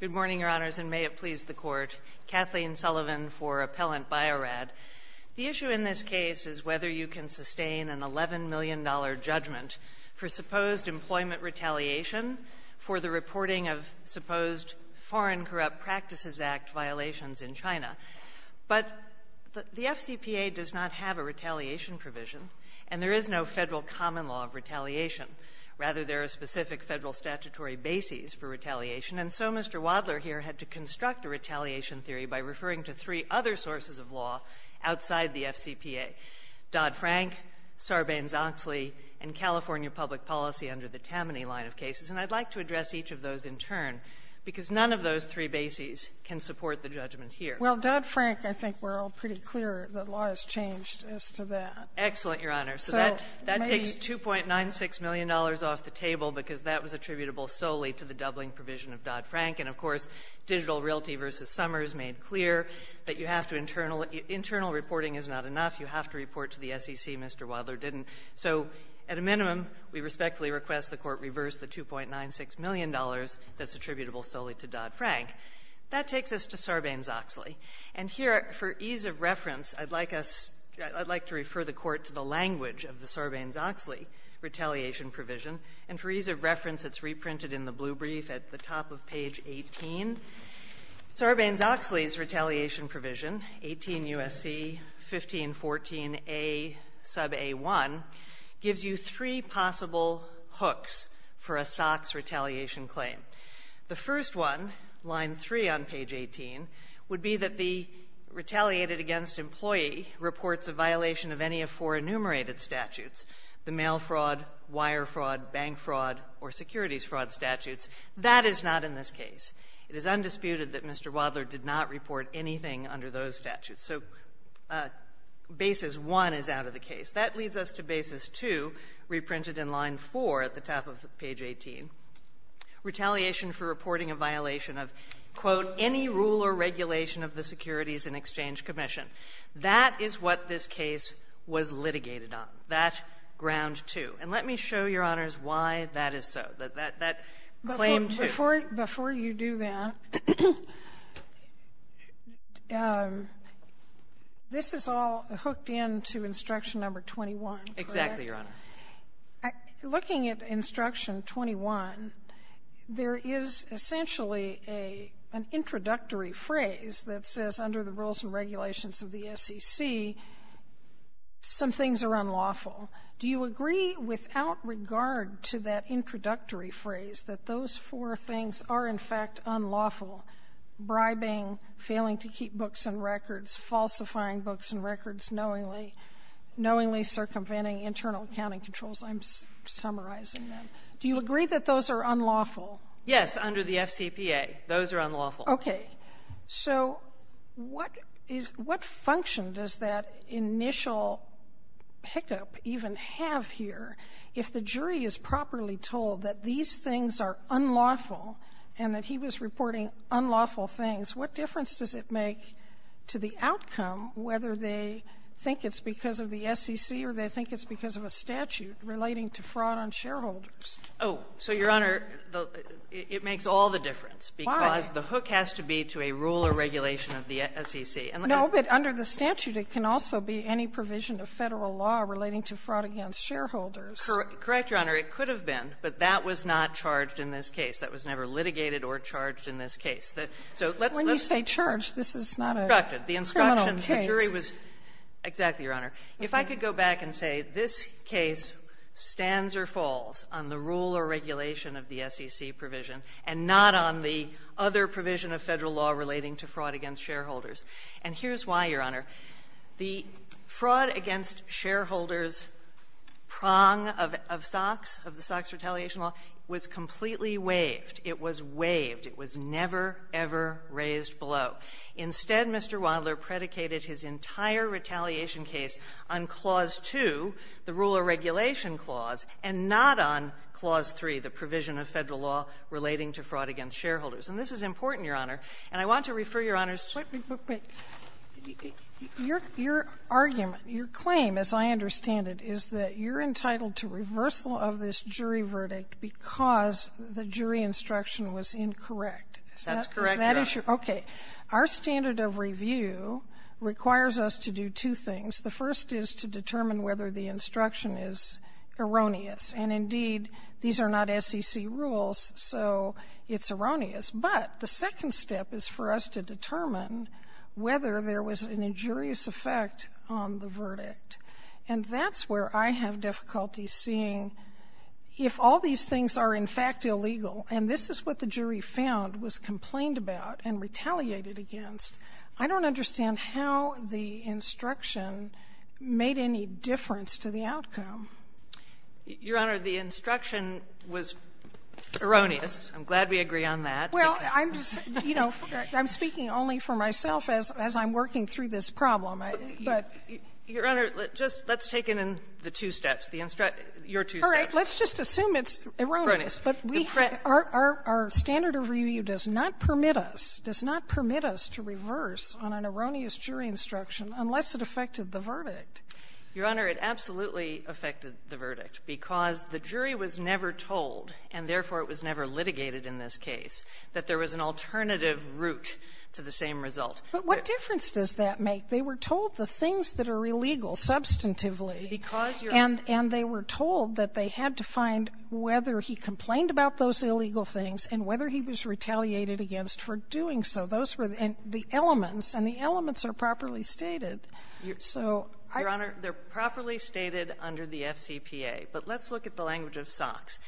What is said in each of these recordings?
Good morning, Your Honors, and may it please the Court. Kathleen Sullivan for Appellant Bio-Rad. The issue in this case is whether you can sustain an $11 million judgment for supposed employment retaliation for the reporting of supposed Foreign Corrupt Practices Act violations in China. But the FCPA does not have a retaliation provision, and there is no federal common law of retaliation. Rather, there are specific federal statutory bases for retaliation. And so Mr. Wadler here had to construct a retaliation theory by referring to three other sources of law outside the FCPA, Dodd-Frank, Sarbanes-Oxley, and California Public Policy under the Tammany line of cases. And I'd like to address each of those in turn, because none of those three bases can support the judgment here. Well, Dodd-Frank, I think we're all pretty clear that law has changed as to that. Excellent, Your Honor. So that takes $2.96 million off the table because that was attributable solely to the doubling provision of Dodd-Frank. And, of course, Digital Realty v. Summers made clear that you have to internal reporting is not enough. You have to report to the SEC. Mr. Wadler didn't. So at a minimum, we respectfully request the Court reverse the $2.96 million that's attributable solely to Dodd-Frank. That takes us to Sarbanes-Oxley. And here, for ease of reference, I'd like us to refer the Court to the language of the Sarbanes-Oxley retaliation provision. And for ease of reference, it's reprinted in the blue brief at the top of page 18. Sarbanes-Oxley's retaliation provision, 18 U.S.C. 1514a sub a1, gives you three possible hooks for a SOX retaliation claim. The first one, line 3 on page 18, would be that the retaliated-against-employee reports a violation of any of four enumerated statutes, the mail fraud, wire fraud, bank fraud, or securities fraud statutes. That is not in this case. It is undisputed that Mr. Wadler did not report anything under those statutes. So basis 1 is out of the case. That leads us to basis 2, reprinted in line 4 at the top of page 18, retaliation for reporting a violation of, quote, any rule or regulation of the Securities and Exchange Commission. That is what this case was litigated on. That, ground 2. And let me show, Your Honors, why that is so, that that claim 2. Before you do that, this is all hooked into Instruction No. 21, correct? Exactly, Your Honor. Looking at Instruction 21, there is essentially a an introductory phrase that says under the rules and regulations of the SEC, some things are unlawful. Do you agree without regard to that introductory phrase that those four things are, in fact, unlawful, bribing, failing to keep books and records, falsifying books and records, knowingly circumventing internal accounting controls? I'm summarizing them. Do you agree that those are unlawful? Yes, under the FCPA, those are unlawful. Okay. So what is what function does that initial hiccup even have here? If the jury is properly told that these things are unlawful and that he was reporting unlawful things, what difference does it make to the outcome whether they think it's because of the SEC or they think it's because of a statute relating to fraud on shareholders? Oh. So, Your Honor, it makes all the difference. Why? Because the hook has to be to a rule or regulation of the SEC. No, but under the statute, it can also be any provision of Federal law relating to fraud against shareholders. Correct, Your Honor. It could have been, but that was not charged in this case. That was never litigated or charged in this case. So let's let's say charge. This is not a criminal case. The instruction of the jury was exactly, Your Honor. If I could go back and say this case stands or falls on the rule or regulation of the SEC provision and not on the other provision of Federal law relating to fraud against shareholders, and here's why, Your Honor. The fraud against shareholders prong of SOX, of the SOX retaliation law, was completely waived. It was waived. It was never, ever raised below. Instead, Mr. Wadler predicated his entire retaliation case on Clause 2, the rule or regulation clause, and not on Clause 3, the provision of Federal law relating to fraud against shareholders. And this is important, Your Honor. And I want to refer, Your Honor's to your argument, your claim, as I understand it, is that you're entitled to reversal of this jury verdict because the jury instruction was incorrect. Is that correct, Your Honor? Okay. Our standard of review requires us to do two things. The first is to determine whether the instruction is erroneous. And, indeed, these are not SEC rules, so it's erroneous. But the second step is for us to determine whether there was an injurious effect on the verdict. And that's where I have difficulty seeing, if all these things are, in fact, illegal, and this is what the jury found, was complained about and retaliated against, I don't understand how the instruction made any difference to the outcome. Your Honor, the instruction was erroneous. I'm glad we agree on that. Well, I'm just, you know, I'm speaking only for myself as I'm working through this problem, but. Your Honor, just let's take it in the two steps, your two steps. All right. Let's just assume it's erroneous. But we have our standard of review does not permit us, does not permit us to reverse on an erroneous jury instruction unless it affected the verdict. Your Honor, it absolutely affected the verdict because the jury was never told, and therefore it was never litigated in this case, that there was an alternative route to the same result. But what difference does that make? They were told the things that are illegal substantively. Because, Your Honor And they were told that they had to find whether he complained about those illegal things and whether he was retaliated against for doing so. Those were the elements, and the elements are properly stated. So I Your Honor, they're properly stated under the FCPA. But let's look at the language of SOX.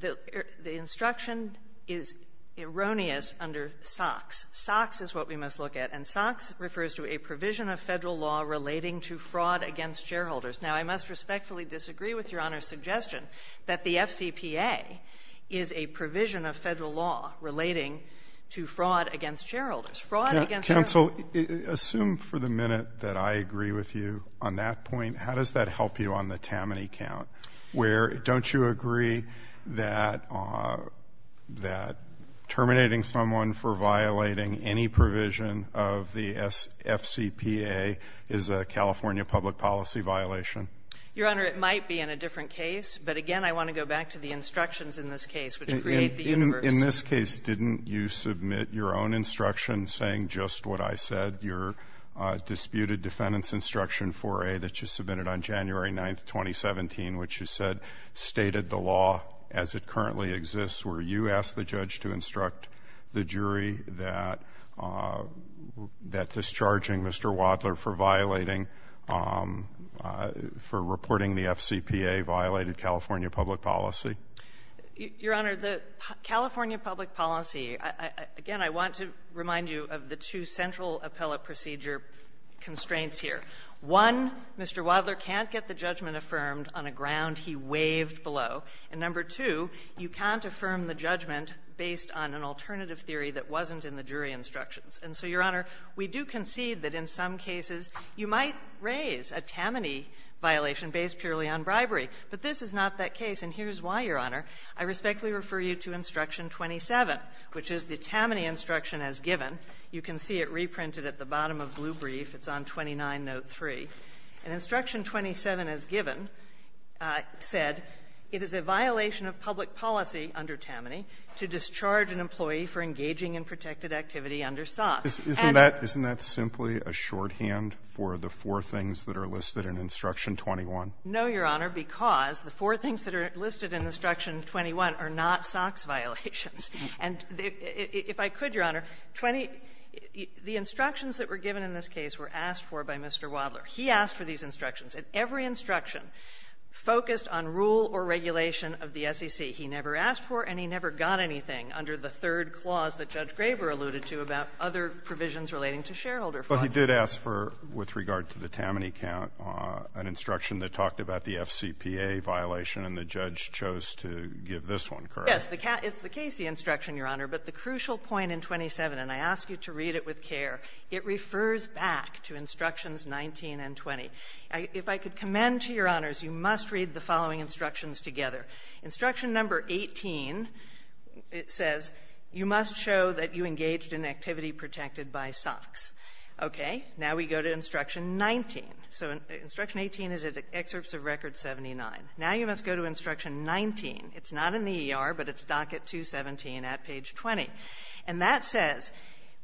The instruction is erroneous under SOX. SOX is what we must look at. And SOX refers to a provision of Federal law relating to fraud against shareholders. Now, I must respectfully disagree with Your Honor's suggestion that the FCPA is a provision of Federal law relating to fraud against shareholders. Fraud against shareholders Counsel, assume for the minute that I agree with you on that account, where don't you agree that terminating someone for violating any provision of the FCPA is a California public policy violation? Your Honor, it might be in a different case. But again, I want to go back to the instructions in this case, which create the universe. In this case, didn't you submit your own instruction saying just what I said, your which you said stated the law as it currently exists, where you ask the judge to instruct the jury that discharging Mr. Wadler for violating, for reporting the FCPA violated California public policy? Your Honor, the California public policy, again, I want to remind you of the two central appellate procedure constraints here. One, Mr. Wadler can't get the judgment affirmed on a ground he waived below. And number two, you can't affirm the judgment based on an alternative theory that wasn't in the jury instructions. And so, Your Honor, we do concede that in some cases you might raise a Tammany violation based purely on bribery. But this is not that case. And here's why, Your Honor. I respectfully refer you to Instruction 27, which is the Tammany instruction as given. You can see it reprinted at the bottom of Blue Brief. It's on 29-note-3. And Instruction 27 as given said, it is a violation of public policy under Tammany to discharge an employee for engaging in protected activity under SOX. for engaging in protected activity under SOX. Isn't that simply a shorthand for the four things that are listed in Instruction 21? No, Your Honor, because the four things that are listed in Instruction 21 are not SOX violations. And if I could, Your Honor, 20 the instructions that were given in this case were asked for by Mr. Wadler. He asked for these instructions. And every instruction focused on rule or regulation of the SEC. He never asked for, and he never got anything under the third clause that Judge Graber alluded to about other provisions relating to shareholder funds. But he did ask for, with regard to the Tammany count, an instruction that talked about the FCPA violation, and the judge chose to give this one, correct? Yes. It's the Casey instruction, Your Honor. But the crucial point in 27, and I ask you to read it with care, it refers back to Instructions 19 and 20. If I could commend to Your Honors, you must read the following instructions together. Instruction number 18, it says, you must show that you engaged in activity protected by SOX. Okay. Now we go to Instruction 19. So Instruction 18 is at Excerpts of Record 79. Now you must go to Instruction 19. It's not in the ER, but it's docket 217 at page 20. And that says,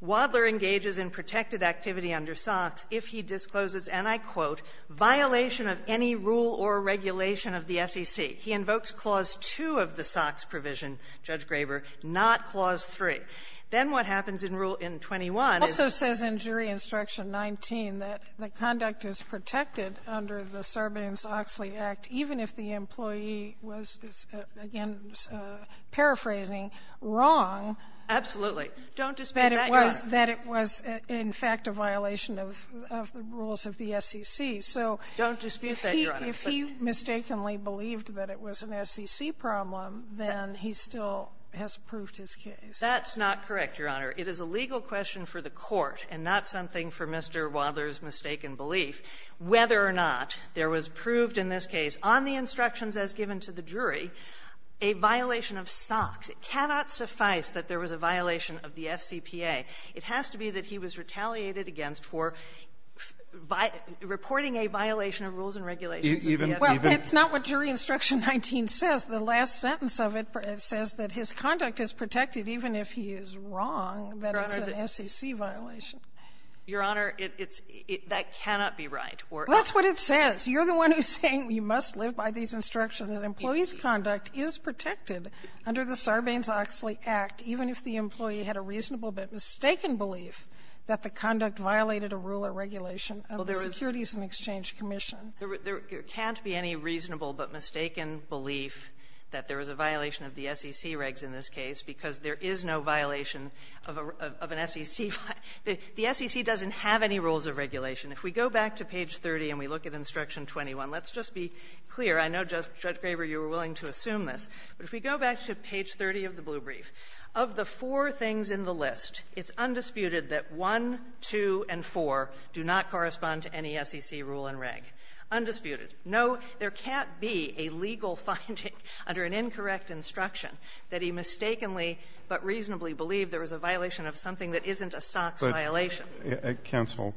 Wadler engages in protected activity under SOX if he discloses, and I quote, violation of any rule or regulation of the SEC. He invokes Clause 2 of the SOX provision, Judge Graber, not Clause 3. Then what happens in Rule 21 is the ---- It also says in Jury Instruction 19 that the conduct is protected under the Sarbanes-Oxley Act, even if the employee was, again, paraphrasing, wrong. Absolutely. Don't dispute that, Your Honor. That it was, in fact, a violation of the rules of the SEC. So if he ---- Don't dispute that, Your Honor. If he mistakenly believed that it was an SEC problem, then he still has proved his case. That's not correct, Your Honor. It is a legal question for the Court and not something for Mr. Wadler's mistaken belief, whether or not there was proved in this case, on the instructions as given to the jury, a violation of SOX. It cannot suffice that there was a violation of the FCPA. It has to be that he was retaliated against for reporting a violation of rules and regulations of the SEC. Well, it's not what Jury Instruction 19 says. The last sentence of it says that his conduct is protected even if he is wrong, that it's an SEC violation. Your Honor, it's ---- that cannot be right. That's what it says. You're the one who's saying you must live by these instructions, that employee's conduct is protected under the Sarbanes-Oxley Act, even if the employee had a reasonable but mistaken belief that the conduct violated a rule or regulation of the Securities and Exchange Commission. There can't be any reasonable but mistaken belief that there was a violation of the SEC regs in this case because there is no violation of an SEC ---- there is no violation of an SEC rule. If the SEC doesn't have any rules of regulation, if we go back to page 30 and we look at Instruction 21, let's just be clear. I know, Judge Graber, you were willing to assume this, but if we go back to page 30 of the blue brief, of the four things in the list, it's undisputed that 1, 2, and 4 do not correspond to any SEC rule and reg. Undisputed. No, there can't be a legal finding under an incorrect instruction that he mistakenly but reasonably believed there was a violation of something that isn't a SOX violation. But, counsel,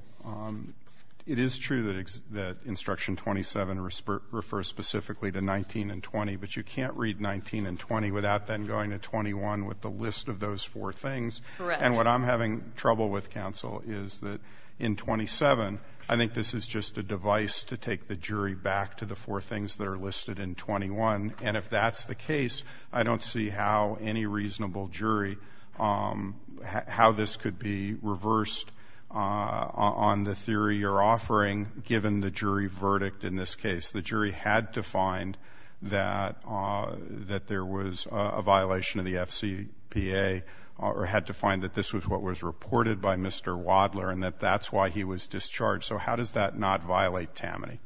it is true that Instruction 27 refers specifically to 19 and 20, but you can't read 19 and 20 without then going to 21 with the list of those four things. Correct. And what I'm having trouble with, counsel, is that in 27, I think this is just a device to take the jury back to the four things that are listed in 21. And if that's the case, I don't see how any reasonable jury, how this could be reversed on the theory you're offering given the jury verdict in this case. The jury had to find that there was a violation of the FCPA or had to find that this was what was reported by Mr. Wadler and that that's why he was discharged. So how does that not violate Tammany?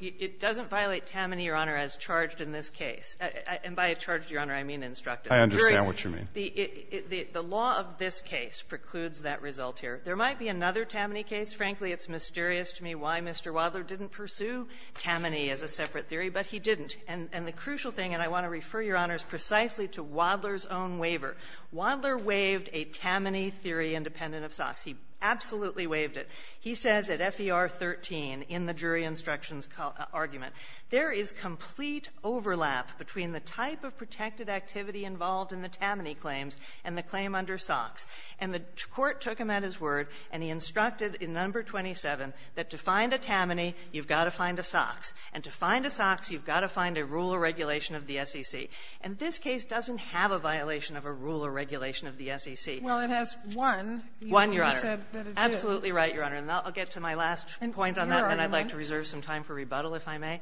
It doesn't violate Tammany, Your Honor, as charged in this case. And by charged, Your Honor, I mean instructed. I understand what you mean. The law of this case precludes that result here. There might be another Tammany case. Frankly, it's mysterious to me why Mr. Wadler didn't pursue Tammany as a separate theory, but he didn't. And the crucial thing, and I want to refer, Your Honors, precisely to Wadler's own waiver, Wadler waived a Tammany theory independent of SOX. He absolutely waived it. He says at FER 13 in the jury instructions argument, there is complete overlap between the type of protected activity involved in the Tammany claims and the claim under SOX. And the Court took him at his word, and he instructed in No. 27 that to find a Tammany, you've got to find a SOX. And to find a SOX, you've got to find a rule or regulation of the SEC. And this case doesn't have a violation of a rule or regulation of the SEC. Well, it has one. One, Your Honor. You said that it did. You're absolutely right, Your Honor. And I'll get to my last point on that. And I'd like to reserve some time for rebuttal, if I may.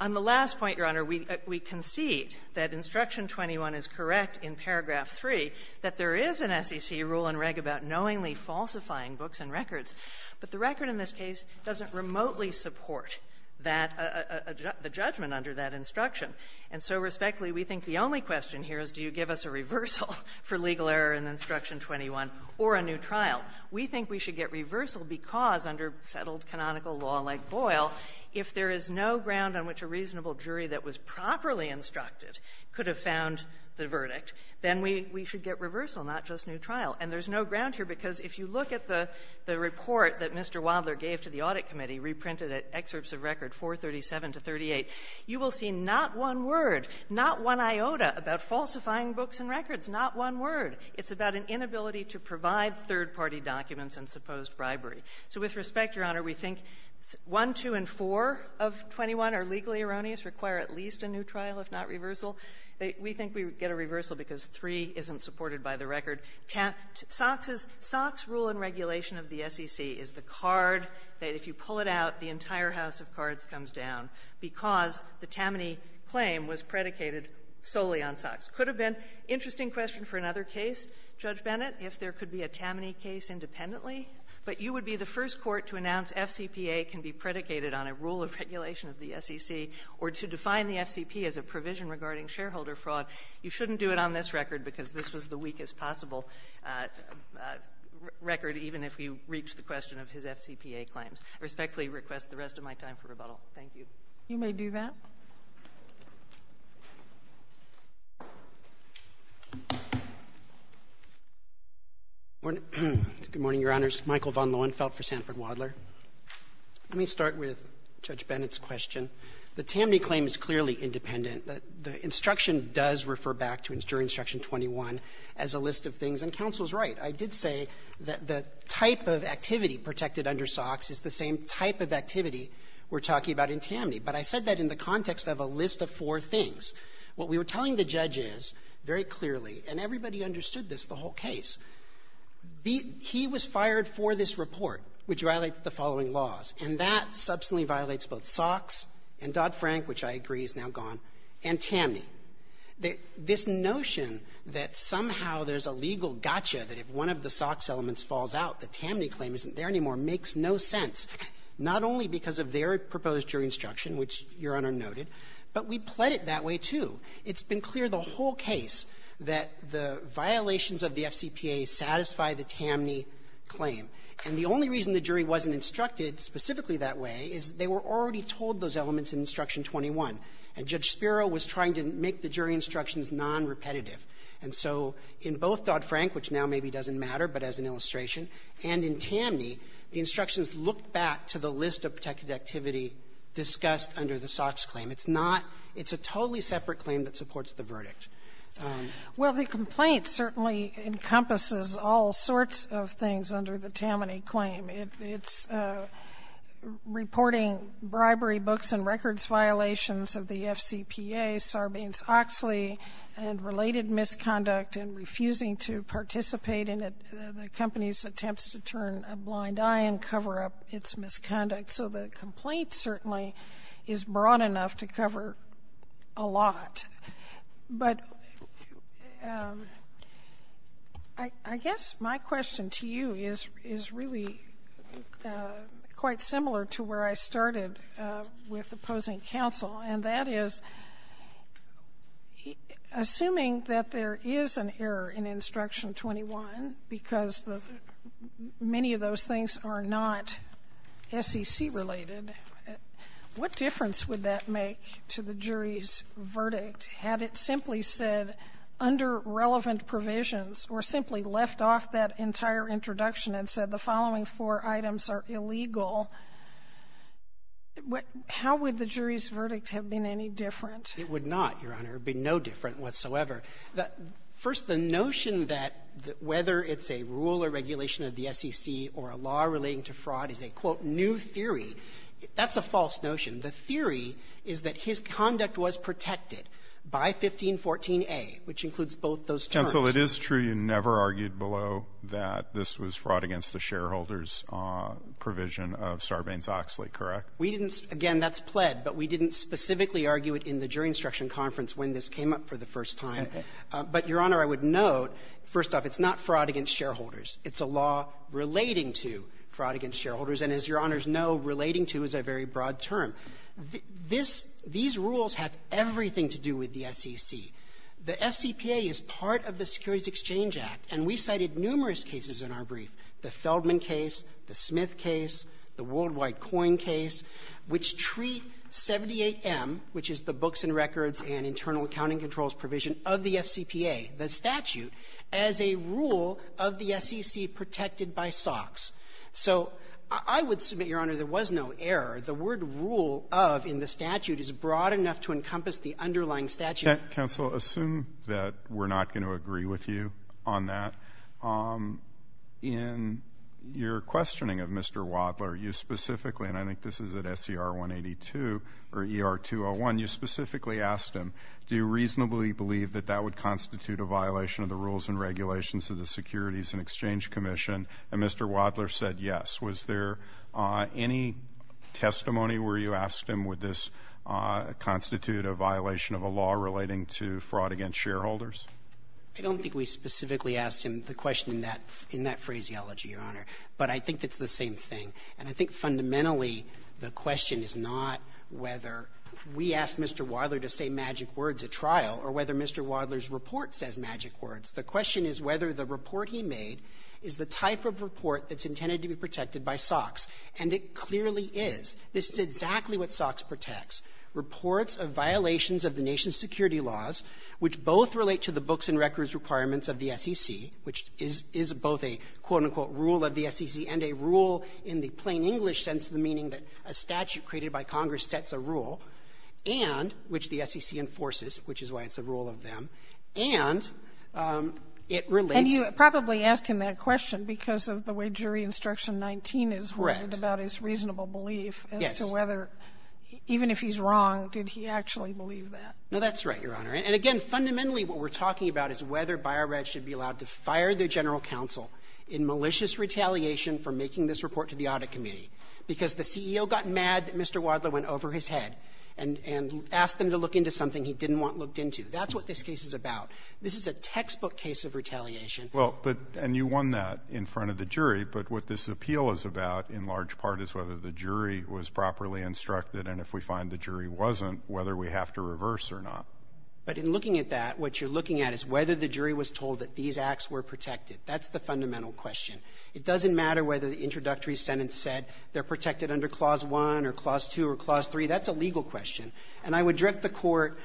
On the last point, Your Honor, we concede that Instruction 21 is correct in paragraph 3, that there is an SEC rule and reg about knowingly falsifying books and records. But the record in this case doesn't remotely support that the judgment under that instruction. And so, respectfully, we think the only question here is, do you give us a reversal for legal error in Instruction 21 or a new trial? We think we should get reversal because, under settled canonical law like Boyle, if there is no ground on which a reasonable jury that was properly instructed could have found the verdict, then we should get reversal, not just new trial. And there's no ground here because if you look at the report that Mr. Wadler gave to the Audit Committee reprinted at Excerpts of Record 437 to 38, you will see not one word, not one iota about falsifying books and records, not one word. It's about an inability to provide third-party documents and supposed bribery. So with respect, Your Honor, we think 1, 2, and 4 of 21 are legally erroneous, require at least a new trial, if not reversal. We think we would get a reversal because 3 isn't supported by the record. Socks' rule and regulation of the SEC is the card that, if you pull it out, the entire house of cards comes down because the Tammany claim was predicated solely on Socks. It could have been an interesting question for another case, Judge Bennett, if there could be a Tammany case independently. But you would be the first court to announce FCPA can be predicated on a rule of regulation of the SEC or to define the FCP as a provision regarding shareholder fraud. You shouldn't do it on this record because this was the weakest possible record, even if we reach the question of his FCPA claims. I respectfully request the rest of my time for rebuttal. Thank you. You may do that. Good morning, Your Honors. Michael von Lohenfeldt for Sanford Wadler. Let me start with Judge Bennett's question. The Tammany claim is clearly independent. The instruction does refer back to during Instruction 21 as a list of things. And counsel is right. I did say that the type of activity protected under Socks is the same type of activity we're talking about in Tammany. But I said that in the context of a list of four things. What we were telling the judges very clearly, and everybody understood this, the whole case, he was fired for this report, which violates the following laws, and that substantially violates both Socks and Dodd-Frank, which I agree is now gone, and Tammany. This notion that somehow there's a legal gotcha, that if one of the Socks elements falls out, the Tammany claim isn't there anymore, makes no sense, not only because of their proposed jury instruction, which Your Honor noted, but we pled it that way, too. It's been clear the whole case that the violations of the FCPA satisfy the Tammany claim. And the only reason the jury wasn't instructed specifically that way is they were already told those elements in Instruction 21, and Judge Spiro was trying to make the jury instructions nonrepetitive. And so in both Dodd-Frank, which now maybe doesn't matter, but as an illustration, and in Tammany, the instructions look back to the list of protected activity discussed under the Socks claim. It's not — it's a totally separate claim that supports the verdict. Well, the complaint certainly encompasses all sorts of things under the Tammany claim. It's reporting bribery books and records violations of the FCPA, Sarbanes-Oxley, and related misconduct and refusing to participate in the company's attempts to turn a blind eye and cover up its misconduct. So the complaint certainly is broad enough to cover a lot. But I guess my question to you is really quite similar to where I started with opposing counsel, and that is, assuming that there is an error in Instruction 21 because many of those things are not SEC-related, what difference would that make to the jury's verdict had it simply said under relevant provisions or simply left off that entire introduction and said the following four items are illegal, how would the jury's verdict have been any different? It would not, Your Honor. It would be no different whatsoever. First, the notion that whether it's a rule or regulation of the SEC or a law relating to fraud is a, quote, new theory. That's a false notion. The theory is that his conduct was protected by 1514a, which includes both those terms. But, counsel, it is true you never argued below that this was fraud against the shareholders' provision of Sarbanes-Oxley, correct? We didn't. Again, that's pled. But we didn't specifically argue it in the jury instruction conference when this came up for the first time. Okay. But, Your Honor, I would note, first off, it's not fraud against shareholders. It's a law relating to fraud against shareholders. And as Your Honors know, relating to is a very broad term. These rules have everything to do with the SEC. The FCPA is part of the Securities Exchange Act. And we cited numerous cases in our brief, the Feldman case, the Smith case, the Worldwide Coin case, which treat 78M, which is the Books and Records and Internal Accounting Controls provision of the FCPA, the statute, as a rule of the SEC protected by SOX. So I would submit, Your Honor, there was no error. The word rule of in the statute is broad enough to encompass the underlying statute. Counsel, assume that we're not going to agree with you on that. In your questioning of Mr. Wadler, you specifically, and I think this is at SCR-182 or ER-201, you specifically asked him, do you reasonably believe that that would constitute a violation of the rules and regulations of the Securities and Exchange Commission? And Mr. Wadler said yes. Was there any testimony where you asked him, would this constitute a violation of a law relating to fraud against shareholders? I don't think we specifically asked him the question in that phraseology, Your Honor. But I think it's the same thing. And I think fundamentally, the question is not whether we asked Mr. Wadler to say magic words at trial or whether Mr. Wadler's report says magic words. The question is whether the report he made is the type of report that's intended to be protected by SOX. And it clearly is. This is exactly what SOX protects, reports of violations of the nation's security laws, which both relate to the books and records requirements of the SEC, which is both a, quote, unquote, rule of the SEC and a rule in the plain English sense of the meaning that a statute created by Congress sets a rule, and which the SEC enforces, which is why it's a rule of them. And it relates to the law. And you probably asked him that question because of the way Jury Instruction 19 is written about his reasonable belief as to whether, even if he's wrong, did he actually believe that. No, that's right, Your Honor. And again, fundamentally, what we're talking about is whether Bio-Rad should be allowed to fire the general counsel in malicious retaliation for making this report to the audit committee, because the CEO got mad that Mr. Wadler went over his head and asked them to look into something he didn't want looked into. That's what this case is about. This is a textbook case of retaliation. Well, but you won that in front of the jury. But what this appeal is about, in large part, is whether the jury was properly instructed. And if we find the jury wasn't, whether we have to reverse or not. But in looking at that, what you're looking at is whether the jury was told that these acts were protected. That's the fundamental question. It doesn't matter whether the introductory sentence said they're protected under Clause 1 or Clause 2 or Clause 3. That's a legal question. And I would direct the Court,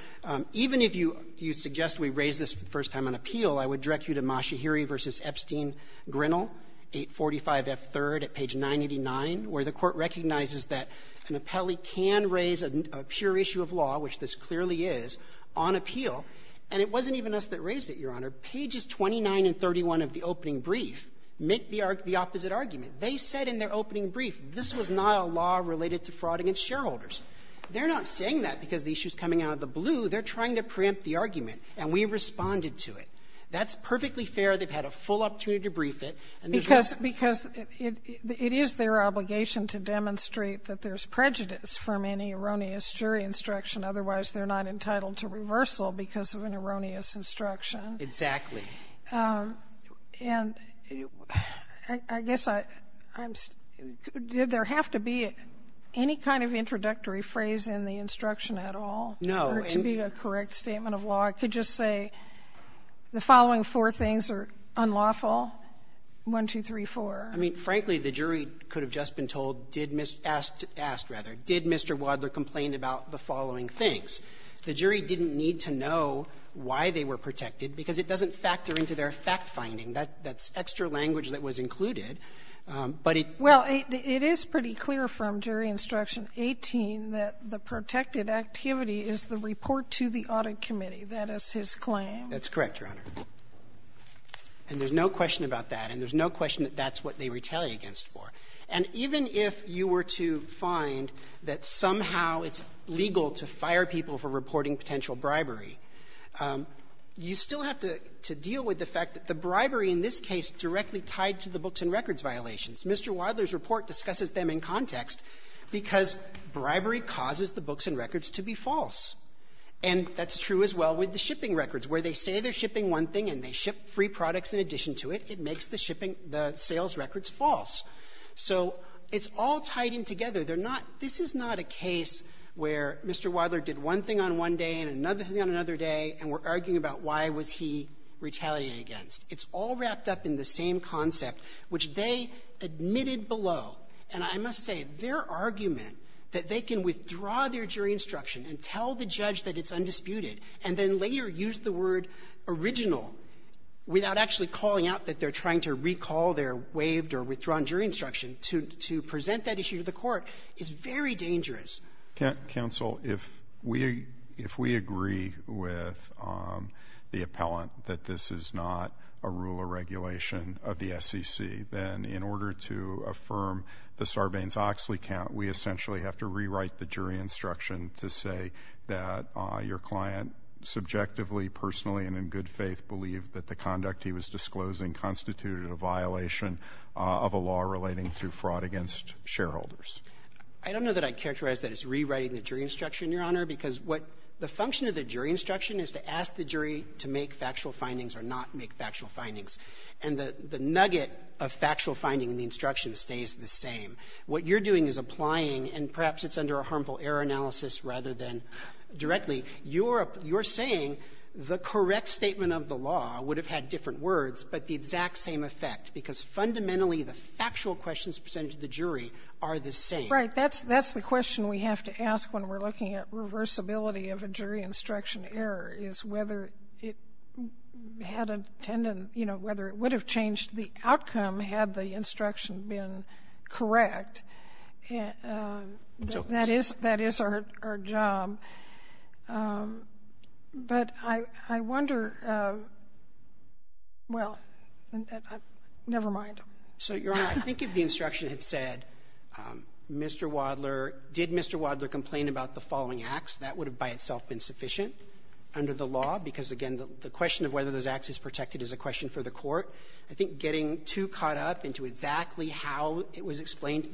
even if you suggest we raise this for the first time on appeal, I would direct you to Mashahiri v. Epstein-Grinnell, 845F3rd at page 989, where the Court recognizes that an appellee can raise a pure issue of law, which this clearly is, on appeal. And it wasn't even us that raised it, Your Honor. Pages 29 and 31 of the opening brief make the opposite argument. They said in their opening brief this was not a law related to fraud against shareholders. They're not saying that because the issue is coming out of the blue. They're trying to preempt the argument. And we responded to it. That's perfectly fair. They've had a full opportunity to brief it. And there's no question. Because it is their obligation to demonstrate that there's prejudice from any erroneous jury instruction. Otherwise, they're not entitled to reversal because of an erroneous instruction. Exactly. And I guess I'm stuck. Did there have to be any kind of introductory phrase in the instruction at all? No. Or to be a correct statement of law, I could just say the following four things are unlawful? One, two, three, four. I mean, frankly, the jury could have just been told, did Mr. Wadler asked, rather, did Mr. Wadler complain about the following things. The jury didn't need to know why they were protected, because it doesn't factor into their fact-finding. That's extra language that was included. But it — Well, it is pretty clear from Jury Instruction 18 that the protected activity is the report to the Audit Committee. That is his claim. That's correct, Your Honor. And there's no question about that. And there's no question that that's what they retaliate against for. And even if you were to find that somehow it's legal to fire people for reporting potential bribery, you still have to deal with the fact that the bribery in this case directly tied to the books and records violations. Mr. Wadler's report discusses them in context because bribery causes the books and records to be false. And that's true as well with the shipping records, where they say they're shipping one thing and they ship free products in addition to it. It makes the shipping — the sales records false. So it's all tied in together. They're not — this is not a case where Mr. Wadler did one thing on one day and another thing on another day, and we're arguing about why was he retaliating against. It's all wrapped up in the same concept, which they admitted below. And I must say, their argument that they can withdraw their jury instruction and tell the judge that it's undisputed and then later use the word original without actually calling out that they're trying to recall their waived or withdrawn jury instruction to present that issue to the court is very dangerous. Can't counsel, if we — if we agree with the appellant that this is not a rule or regulation of the SEC, then in order to affirm the Sarbanes-Oxley count, we essentially have to rewrite the jury instruction to say that your client subjectively, personally, and in good faith believed that the conduct he was disclosing constituted a violation of a law relating to fraud against shareholders. I don't know that I'd characterize that as rewriting the jury instruction, Your Honor, because what — the function of the jury instruction is to ask the jury to make factual findings or not make factual findings. And the nugget of factual finding in the instruction stays the same. What you're doing is applying — and perhaps it's under a harmful error analysis rather than directly — you're saying the correct statement of the law would have had different words, but the exact same effect, because fundamentally the factual questions presented to the jury are the same. Right. That's — that's the question we have to ask when we're looking at reversibility of a jury instruction error, is whether it had intended, you know, whether it would have changed the outcome had the instruction been correct. That is — that is our job. But I — I wonder — well, never mind. So, Your Honor, I think if the instruction had said, Mr. Wadler — did Mr. Wadler complain about the following acts, that would have by itself been sufficient under the law, because, again, the question of whether those acts is protected is a question for the Court. I think getting too caught up into exactly how it was questions, not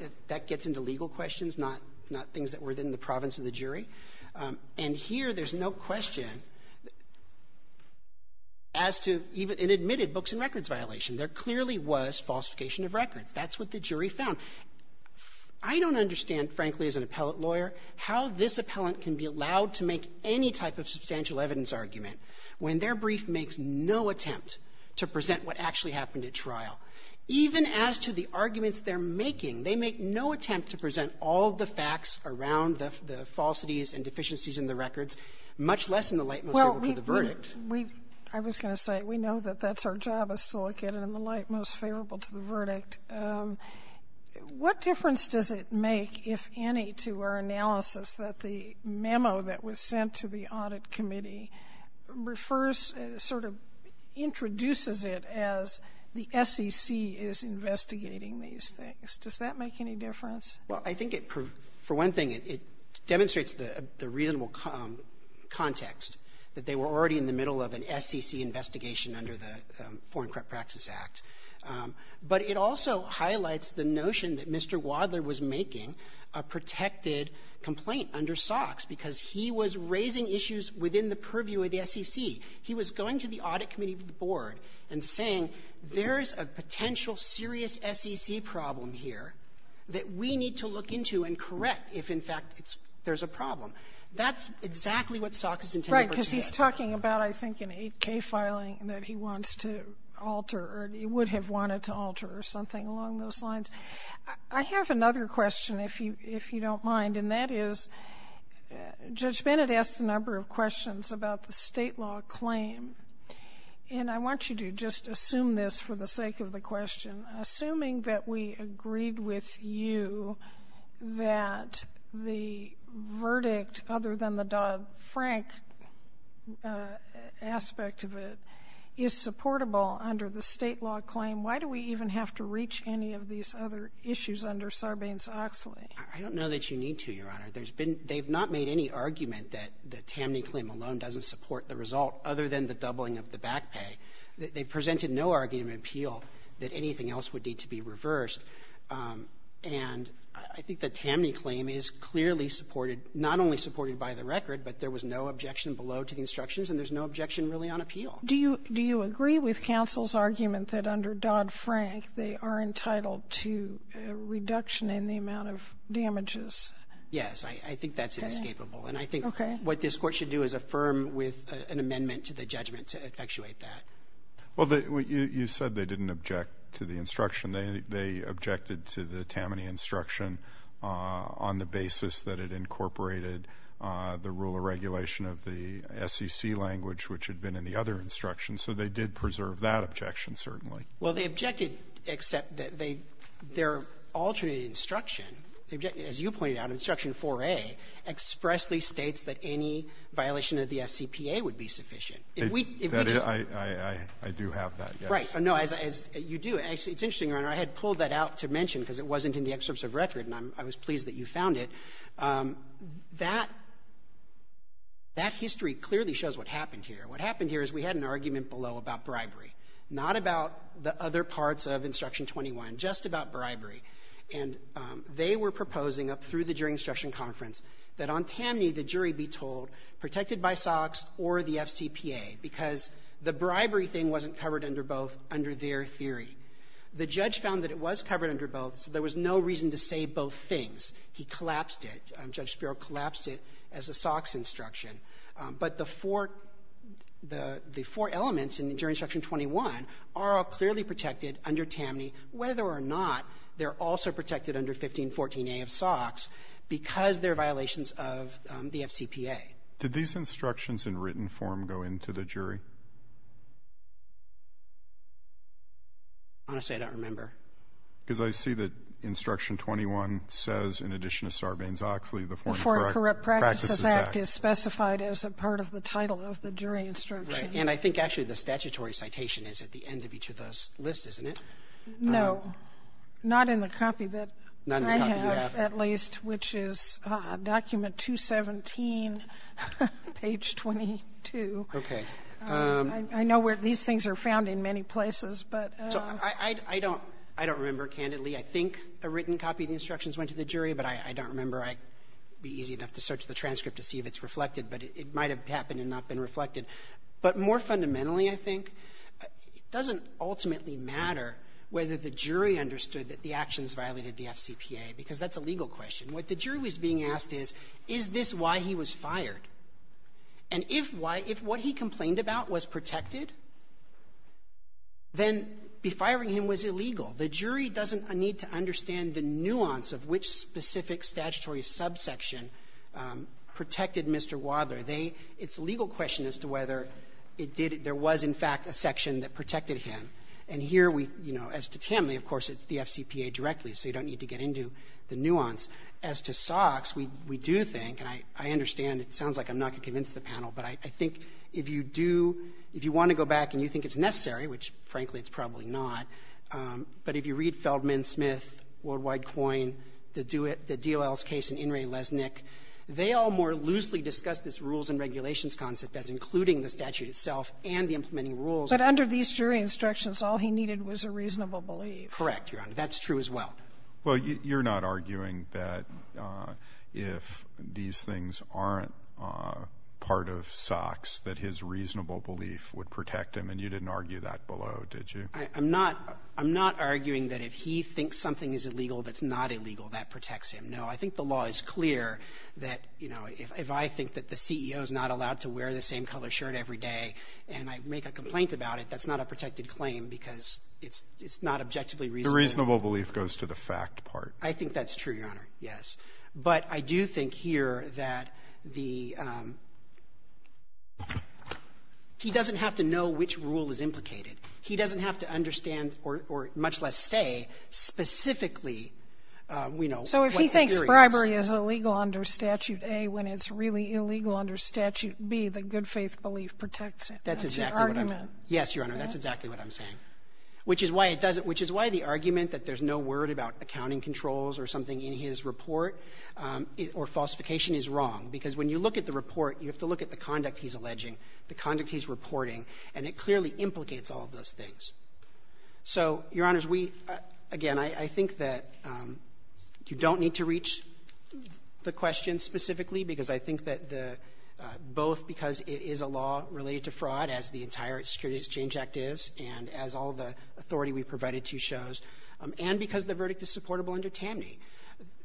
— not things that were within the province of the jury. And here there's no question as to — it admitted books and records violation. There clearly was falsification of records. That's what the jury found. I don't understand, frankly, as an appellate lawyer, how this appellant can be allowed to make any type of substantial evidence argument when their brief makes no attempt to present what actually happened at trial. Even as to the arguments they're making, they make no attempt to present all the facts around the — the falsities and deficiencies in the records, much less in the light most favorable to the verdict. Sotomayor, I was going to say, we know that that's our job, is to look at it in the light most favorable to the verdict. What difference does it make, if any, to our analysis that the memo that was sent to the Audit Committee refers — sort of introduces it as the SEC is investigating these things? Does that make any difference? Well, I think it — for one thing, it demonstrates the reasonable context, that they were already in the middle of an SEC investigation under the Foreign Corrupt Practices Act. But it also highlights the notion that Mr. Wadler was making a protected complaint under SOX, because he was raising issues within the purview of the SEC. He was going to the Audit Committee board and saying, there's a potential serious SEC problem here that we need to look into and correct if, in fact, it's — there's a problem. That's exactly what SOX is intended to do. Right. Because he's talking about, I think, an 8k filing that he wants to alter, or he would have wanted to alter, or something along those lines. I have another question, if you — if you don't mind, and that is, Judge Bennett asked a number of questions about the State law claim. And I want you to just assume this for the sake of the question. Assuming that we agreed with you that the verdict, other than the Dodd-Frank aspect of it, is supportable under the State law claim, why do we even have to reach any of these other issues under Sarbanes-Oxley? I don't know that you need to, Your Honor. There's been — they've not made any argument that the Tammany claim alone doesn't support the result, other than the doubling of the back pay. They've presented no argument, appeal, that anything else would need to be reversed. And I think the Tammany claim is clearly supported, not only supported by the record, but there was no objection below to the instructions, and there's no objection really on appeal. Do you agree with counsel's argument that under Dodd-Frank, they are entitled to a reduction in the amount of damages? Yes. I think that's inescapable. And I think what this Court should do is affirm with an amendment to the judgment to effectuate that. Well, you said they didn't object to the instruction. They objected to the Tammany instruction on the basis that it incorporated the rule of regulation of the SEC language, which had been in the other instruction. So they did preserve that objection, certainly. Well, they objected, except that they — their alternate instruction, as you point out, instruction 4A, expressly states that any violation of the FCPA would be sufficient. If we — That is — I do have that, yes. Right. No. As you do, it's interesting, Your Honor. I had pulled that out to mention because it wasn't in the excerpts of record, and I was pleased that you found it. That — that history clearly shows what happened here. What happened here is we had an argument below about bribery, not about the other parts of instruction 21, just about bribery. And they were proposing up through the jury instruction conference that on Tammany, the jury be told, protected by SOX or the FCPA, because the bribery thing wasn't covered under both under their theory. The judge found that it was covered under both, so there was no reason to say both things. He collapsed it. Judge Spiro collapsed it as a SOX instruction. But the four — the four elements in jury instruction 21 are all clearly protected under Tammany, whether or not they're also protected under 1514a of SOX, and whether or not they're also protected under 1514a of SOX, because they're violations of the FCPA. Did these instructions in written form go into the jury? Honestly, I don't remember. Because I see that instruction 21 says, in addition to Sarbanes-Oxley, the Foreign Corrupt Practices Act. The Foreign Corrupt Practices Act is specified as a part of the title of the jury instruction. Right. And I think, actually, the statutory citation is at the end of each of those lists, isn't it? No. Not in the copy that I have, at least, which is document 217, page 22. Okay. I know where these things are found in many places, but — So I don't — I don't remember, candidly. I think a written copy of the instructions went to the jury, but I don't remember. I'd be easy enough to search the transcript to see if it's reflected, but it might have happened and not been reflected. But more fundamentally, I think, it doesn't ultimately matter whether the jury understood that the actions violated the FCPA, because that's a legal question. What the jury was being asked is, is this why he was fired? And if why — if what he complained about was protected, then befiring him was illegal. The jury doesn't need to understand the nuance of which specific statutory subsection protected Mr. Wadler. They — it's a legal question as to whether it did — there was, in fact, a section that protected him. And here we — you know, as to Tamley, of course, it's the FCPA directly, so you don't need to get into the nuance. As to Sox, we do think — and I understand, it sounds like I'm not going to convince the panel, but I think if you do — if you want to go back and you think it's necessary, which, frankly, it's probably not, but if you read Feldman, Smith, Worldwide Coin, the DOL's case in In re Lesnick, they all more loosely discuss this rules and regulations concept as including the statute itself and the implementing rules. But under these jury instructions, all he needed was a reasonable belief. Correct, Your Honor. That's true as well. Well, you're not arguing that if these things aren't part of Sox, that his reasonable belief would protect him, and you didn't argue that below, did you? I'm not — I'm not arguing that if he thinks something is illegal that's not illegal, that protects him. No. I think the law is clear that, you know, if I think that the CEO is not allowed to wear the same color shirt every day and I make a complaint about it, that's not a protected claim because it's not objectively reasonable. The reasonable belief goes to the fact part. I think that's true, Your Honor, yes. But I do think here that the — he doesn't have to know which rule is implicated. He doesn't have to understand or much less say specifically, you know, what the theory So if he thinks bribery is illegal under Statute A, when it's really illegal under Statute B, the good-faith belief protects him. That's your argument. That's exactly what I'm — yes, Your Honor, that's exactly what I'm saying, which is why it doesn't — which is why the argument that there's no word about accounting controls or something in his report or falsification is wrong, because when you look at the report, you have to look at the conduct he's alleging, the conduct he's reporting, and it clearly implicates all of those things. So, Your Honors, we — again, I think that you don't need to reach the question specifically, because I think that the — both because it is a law related to fraud, as the entire Security Exchange Act is, and as all the authority we provided to shows, and because the verdict is supportable under TAMNY.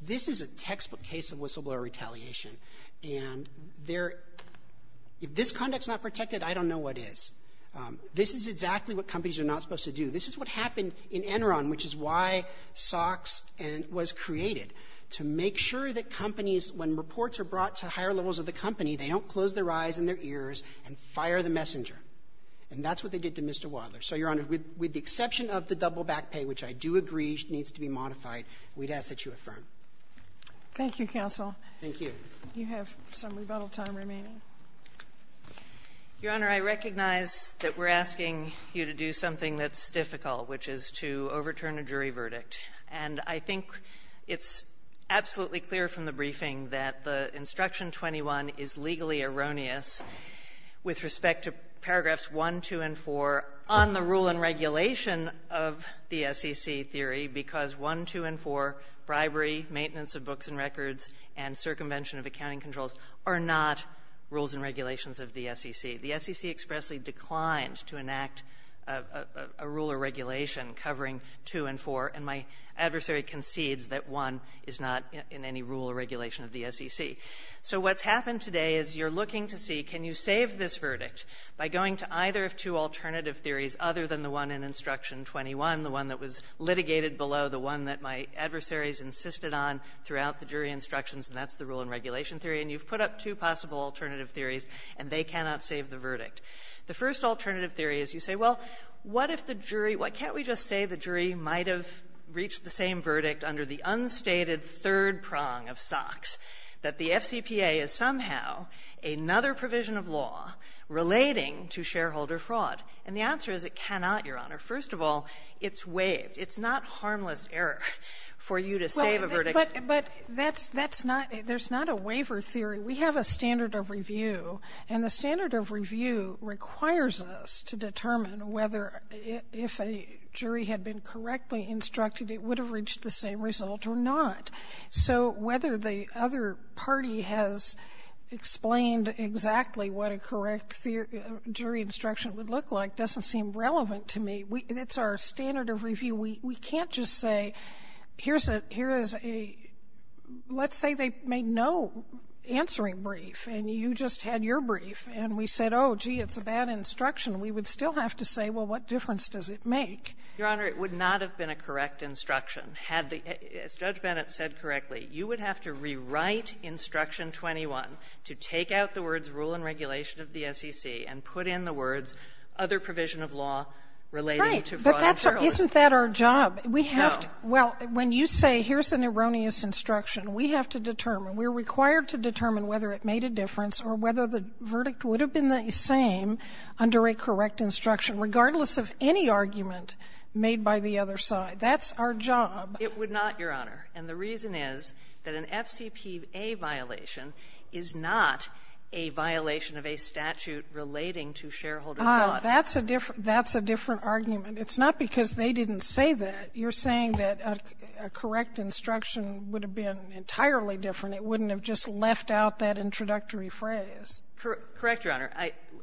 This is a textbook case of whistleblower retaliation. And there — if this conduct's not protected, I don't know what is. This is exactly what companies are not supposed to do. This is what happened in Enron, which is why SOX was created, to make sure that companies, when reports are brought to higher levels of the company, they don't close their eyes and their ears and fire the messenger. And that's what they did to Mr. Wadler. So, Your Honor, with the exception of the double back pay, which I do agree needs to be modified, we'd ask that you affirm. Thank you, counsel. Thank you. You have some rebuttal time remaining. Your Honor, I recognize that we're asking you to do something that's difficult, which is to overturn a jury verdict. And I think it's absolutely clear from the briefing that the Instruction 21 is legally erroneous with respect to paragraphs 1, 2, and 4 on the rule and regulation of the SEC theory, because 1, 2, and 4, bribery, maintenance of books and records, and circumvention of accounting controls are not rules and regulations of the SEC. The SEC expressly declined to enact a rule or regulation covering 2 and 4, and my adversary concedes that 1 is not in any rule or regulation of the SEC. So what's happened today is you're looking to see, can you save this verdict by going to either of two alternative theories other than the one in Instruction 21, the one that was litigated below, the one that my adversaries insisted on throughout the jury instructions, and that's the rule and regulation theory, and you've put up two possible alternative theories, and they cannot save the verdict. The first alternative theory is you say, well, what if the jury — why can't we just say the jury might have reached the same verdict under the unstated third prong of SOX, that the FCPA is somehow another provision of law relating to shareholder fraud? And the answer is it cannot, Your Honor, and that's a harmless error for you to save a verdict. Sotomayor, but that's not — there's not a waiver theory. We have a standard of review, and the standard of review requires us to determine whether, if a jury had been correctly instructed, it would have reached the same result or not. So whether the other party has explained exactly what a correct jury instruction would look like doesn't seem relevant to me. It's our standard of review. We can't just say, here's a — here is a — let's say they made no answering brief, and you just had your brief, and we said, oh, gee, it's a bad instruction. We would still have to say, well, what difference does it make? Your Honor, it would not have been a correct instruction had the — as Judge Bennett said correctly, you would have to rewrite Instruction 21 to take out the words rule and regulation of the SEC and put in the words other provision of law relating to fraud and shareholder fraud. Isn't that our job? We have to — No. Well, when you say, here's an erroneous instruction, we have to determine, we're required to determine whether it made a difference or whether the verdict would have been the same under a correct instruction, regardless of any argument made by the other side. That's our job. It would not, Your Honor. And the reason is that an FCPA violation is not a violation of a statute relating to shareholder fraud. That's a different argument. It's not because they didn't say that. You're saying that a correct instruction would have been entirely different. It wouldn't have just left out that introductory phrase. Correct, Your Honor.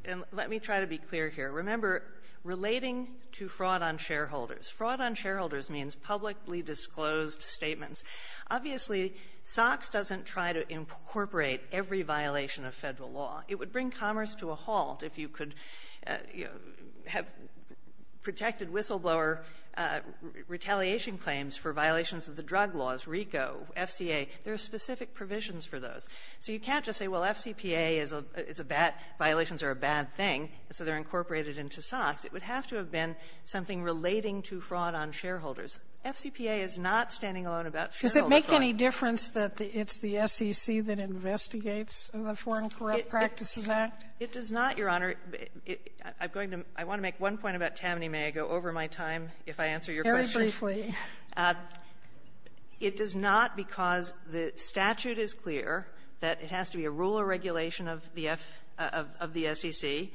And let me try to be clear here. Remember, relating to fraud on shareholders. Fraud on shareholders means publicly disclosed statements. Obviously, SOX doesn't try to incorporate every violation of Federal law. It would bring commerce to a halt if you could, you know, have protected whistleblower retaliation claims for violations of the drug laws, RICO, FCA. There are specific provisions for those. So you can't just say, well, FCPA is a bad — violations are a bad thing, so they're incorporated into SOX. It would have to have been something relating to fraud on shareholders. FCPA is not standing alone about shareholder fraud. Does it make any difference that it's the SEC that investigates the Foreign Corrupt Practices Act? It does not, Your Honor. I'm going to — I want to make one point about Tammany. May I go over my time, if I answer your question? Very briefly. It does not because the statute is clear that it has to be a rule or regulation of the SEC,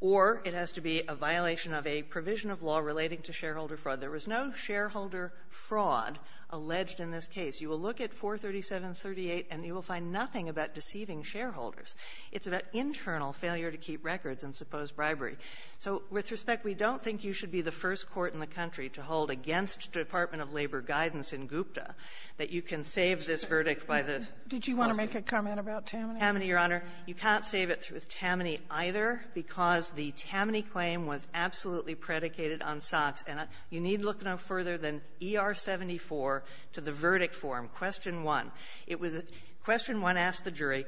or it has to be a violation of a provision of law relating to shareholder fraud. There was no shareholder fraud alleged in this case. You will look at 437.38, and you will find nothing about deceiving shareholders. It's about internal failure to keep records and supposed bribery. So with respect, we don't think you should be the first court in the country to hold against Department of Labor guidance in GUPTA that you can save this verdict by the — Did you want to make a comment about Tammany? Tammany, Your Honor. You can't save it with Tammany either because the Tammany claim was absolutely predicated on Sox. And you need look no further than ER-74 to the verdict form. Question one. It was a — question one asked the jury,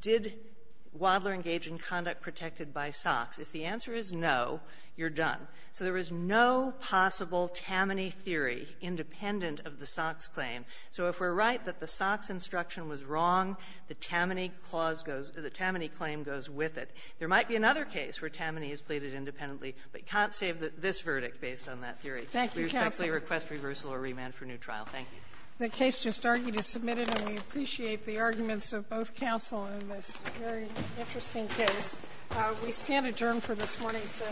did Wadler engage in conduct protected by Sox? If the answer is no, you're done. So there was no possible Tammany theory independent of the Sox claim. So if we're right that the Sox instruction was wrong, the Tammany clause goes — the Tammany claim goes with it. There might be another case where Tammany is pleaded independently, but you can't save this verdict based on that theory. Thank you, counsel. We respectfully request reversal or remand for new trial. Thank you. The case just argued is submitted, and we appreciate the arguments of both counsel in this very interesting case. We stand adjourned for this morning's session.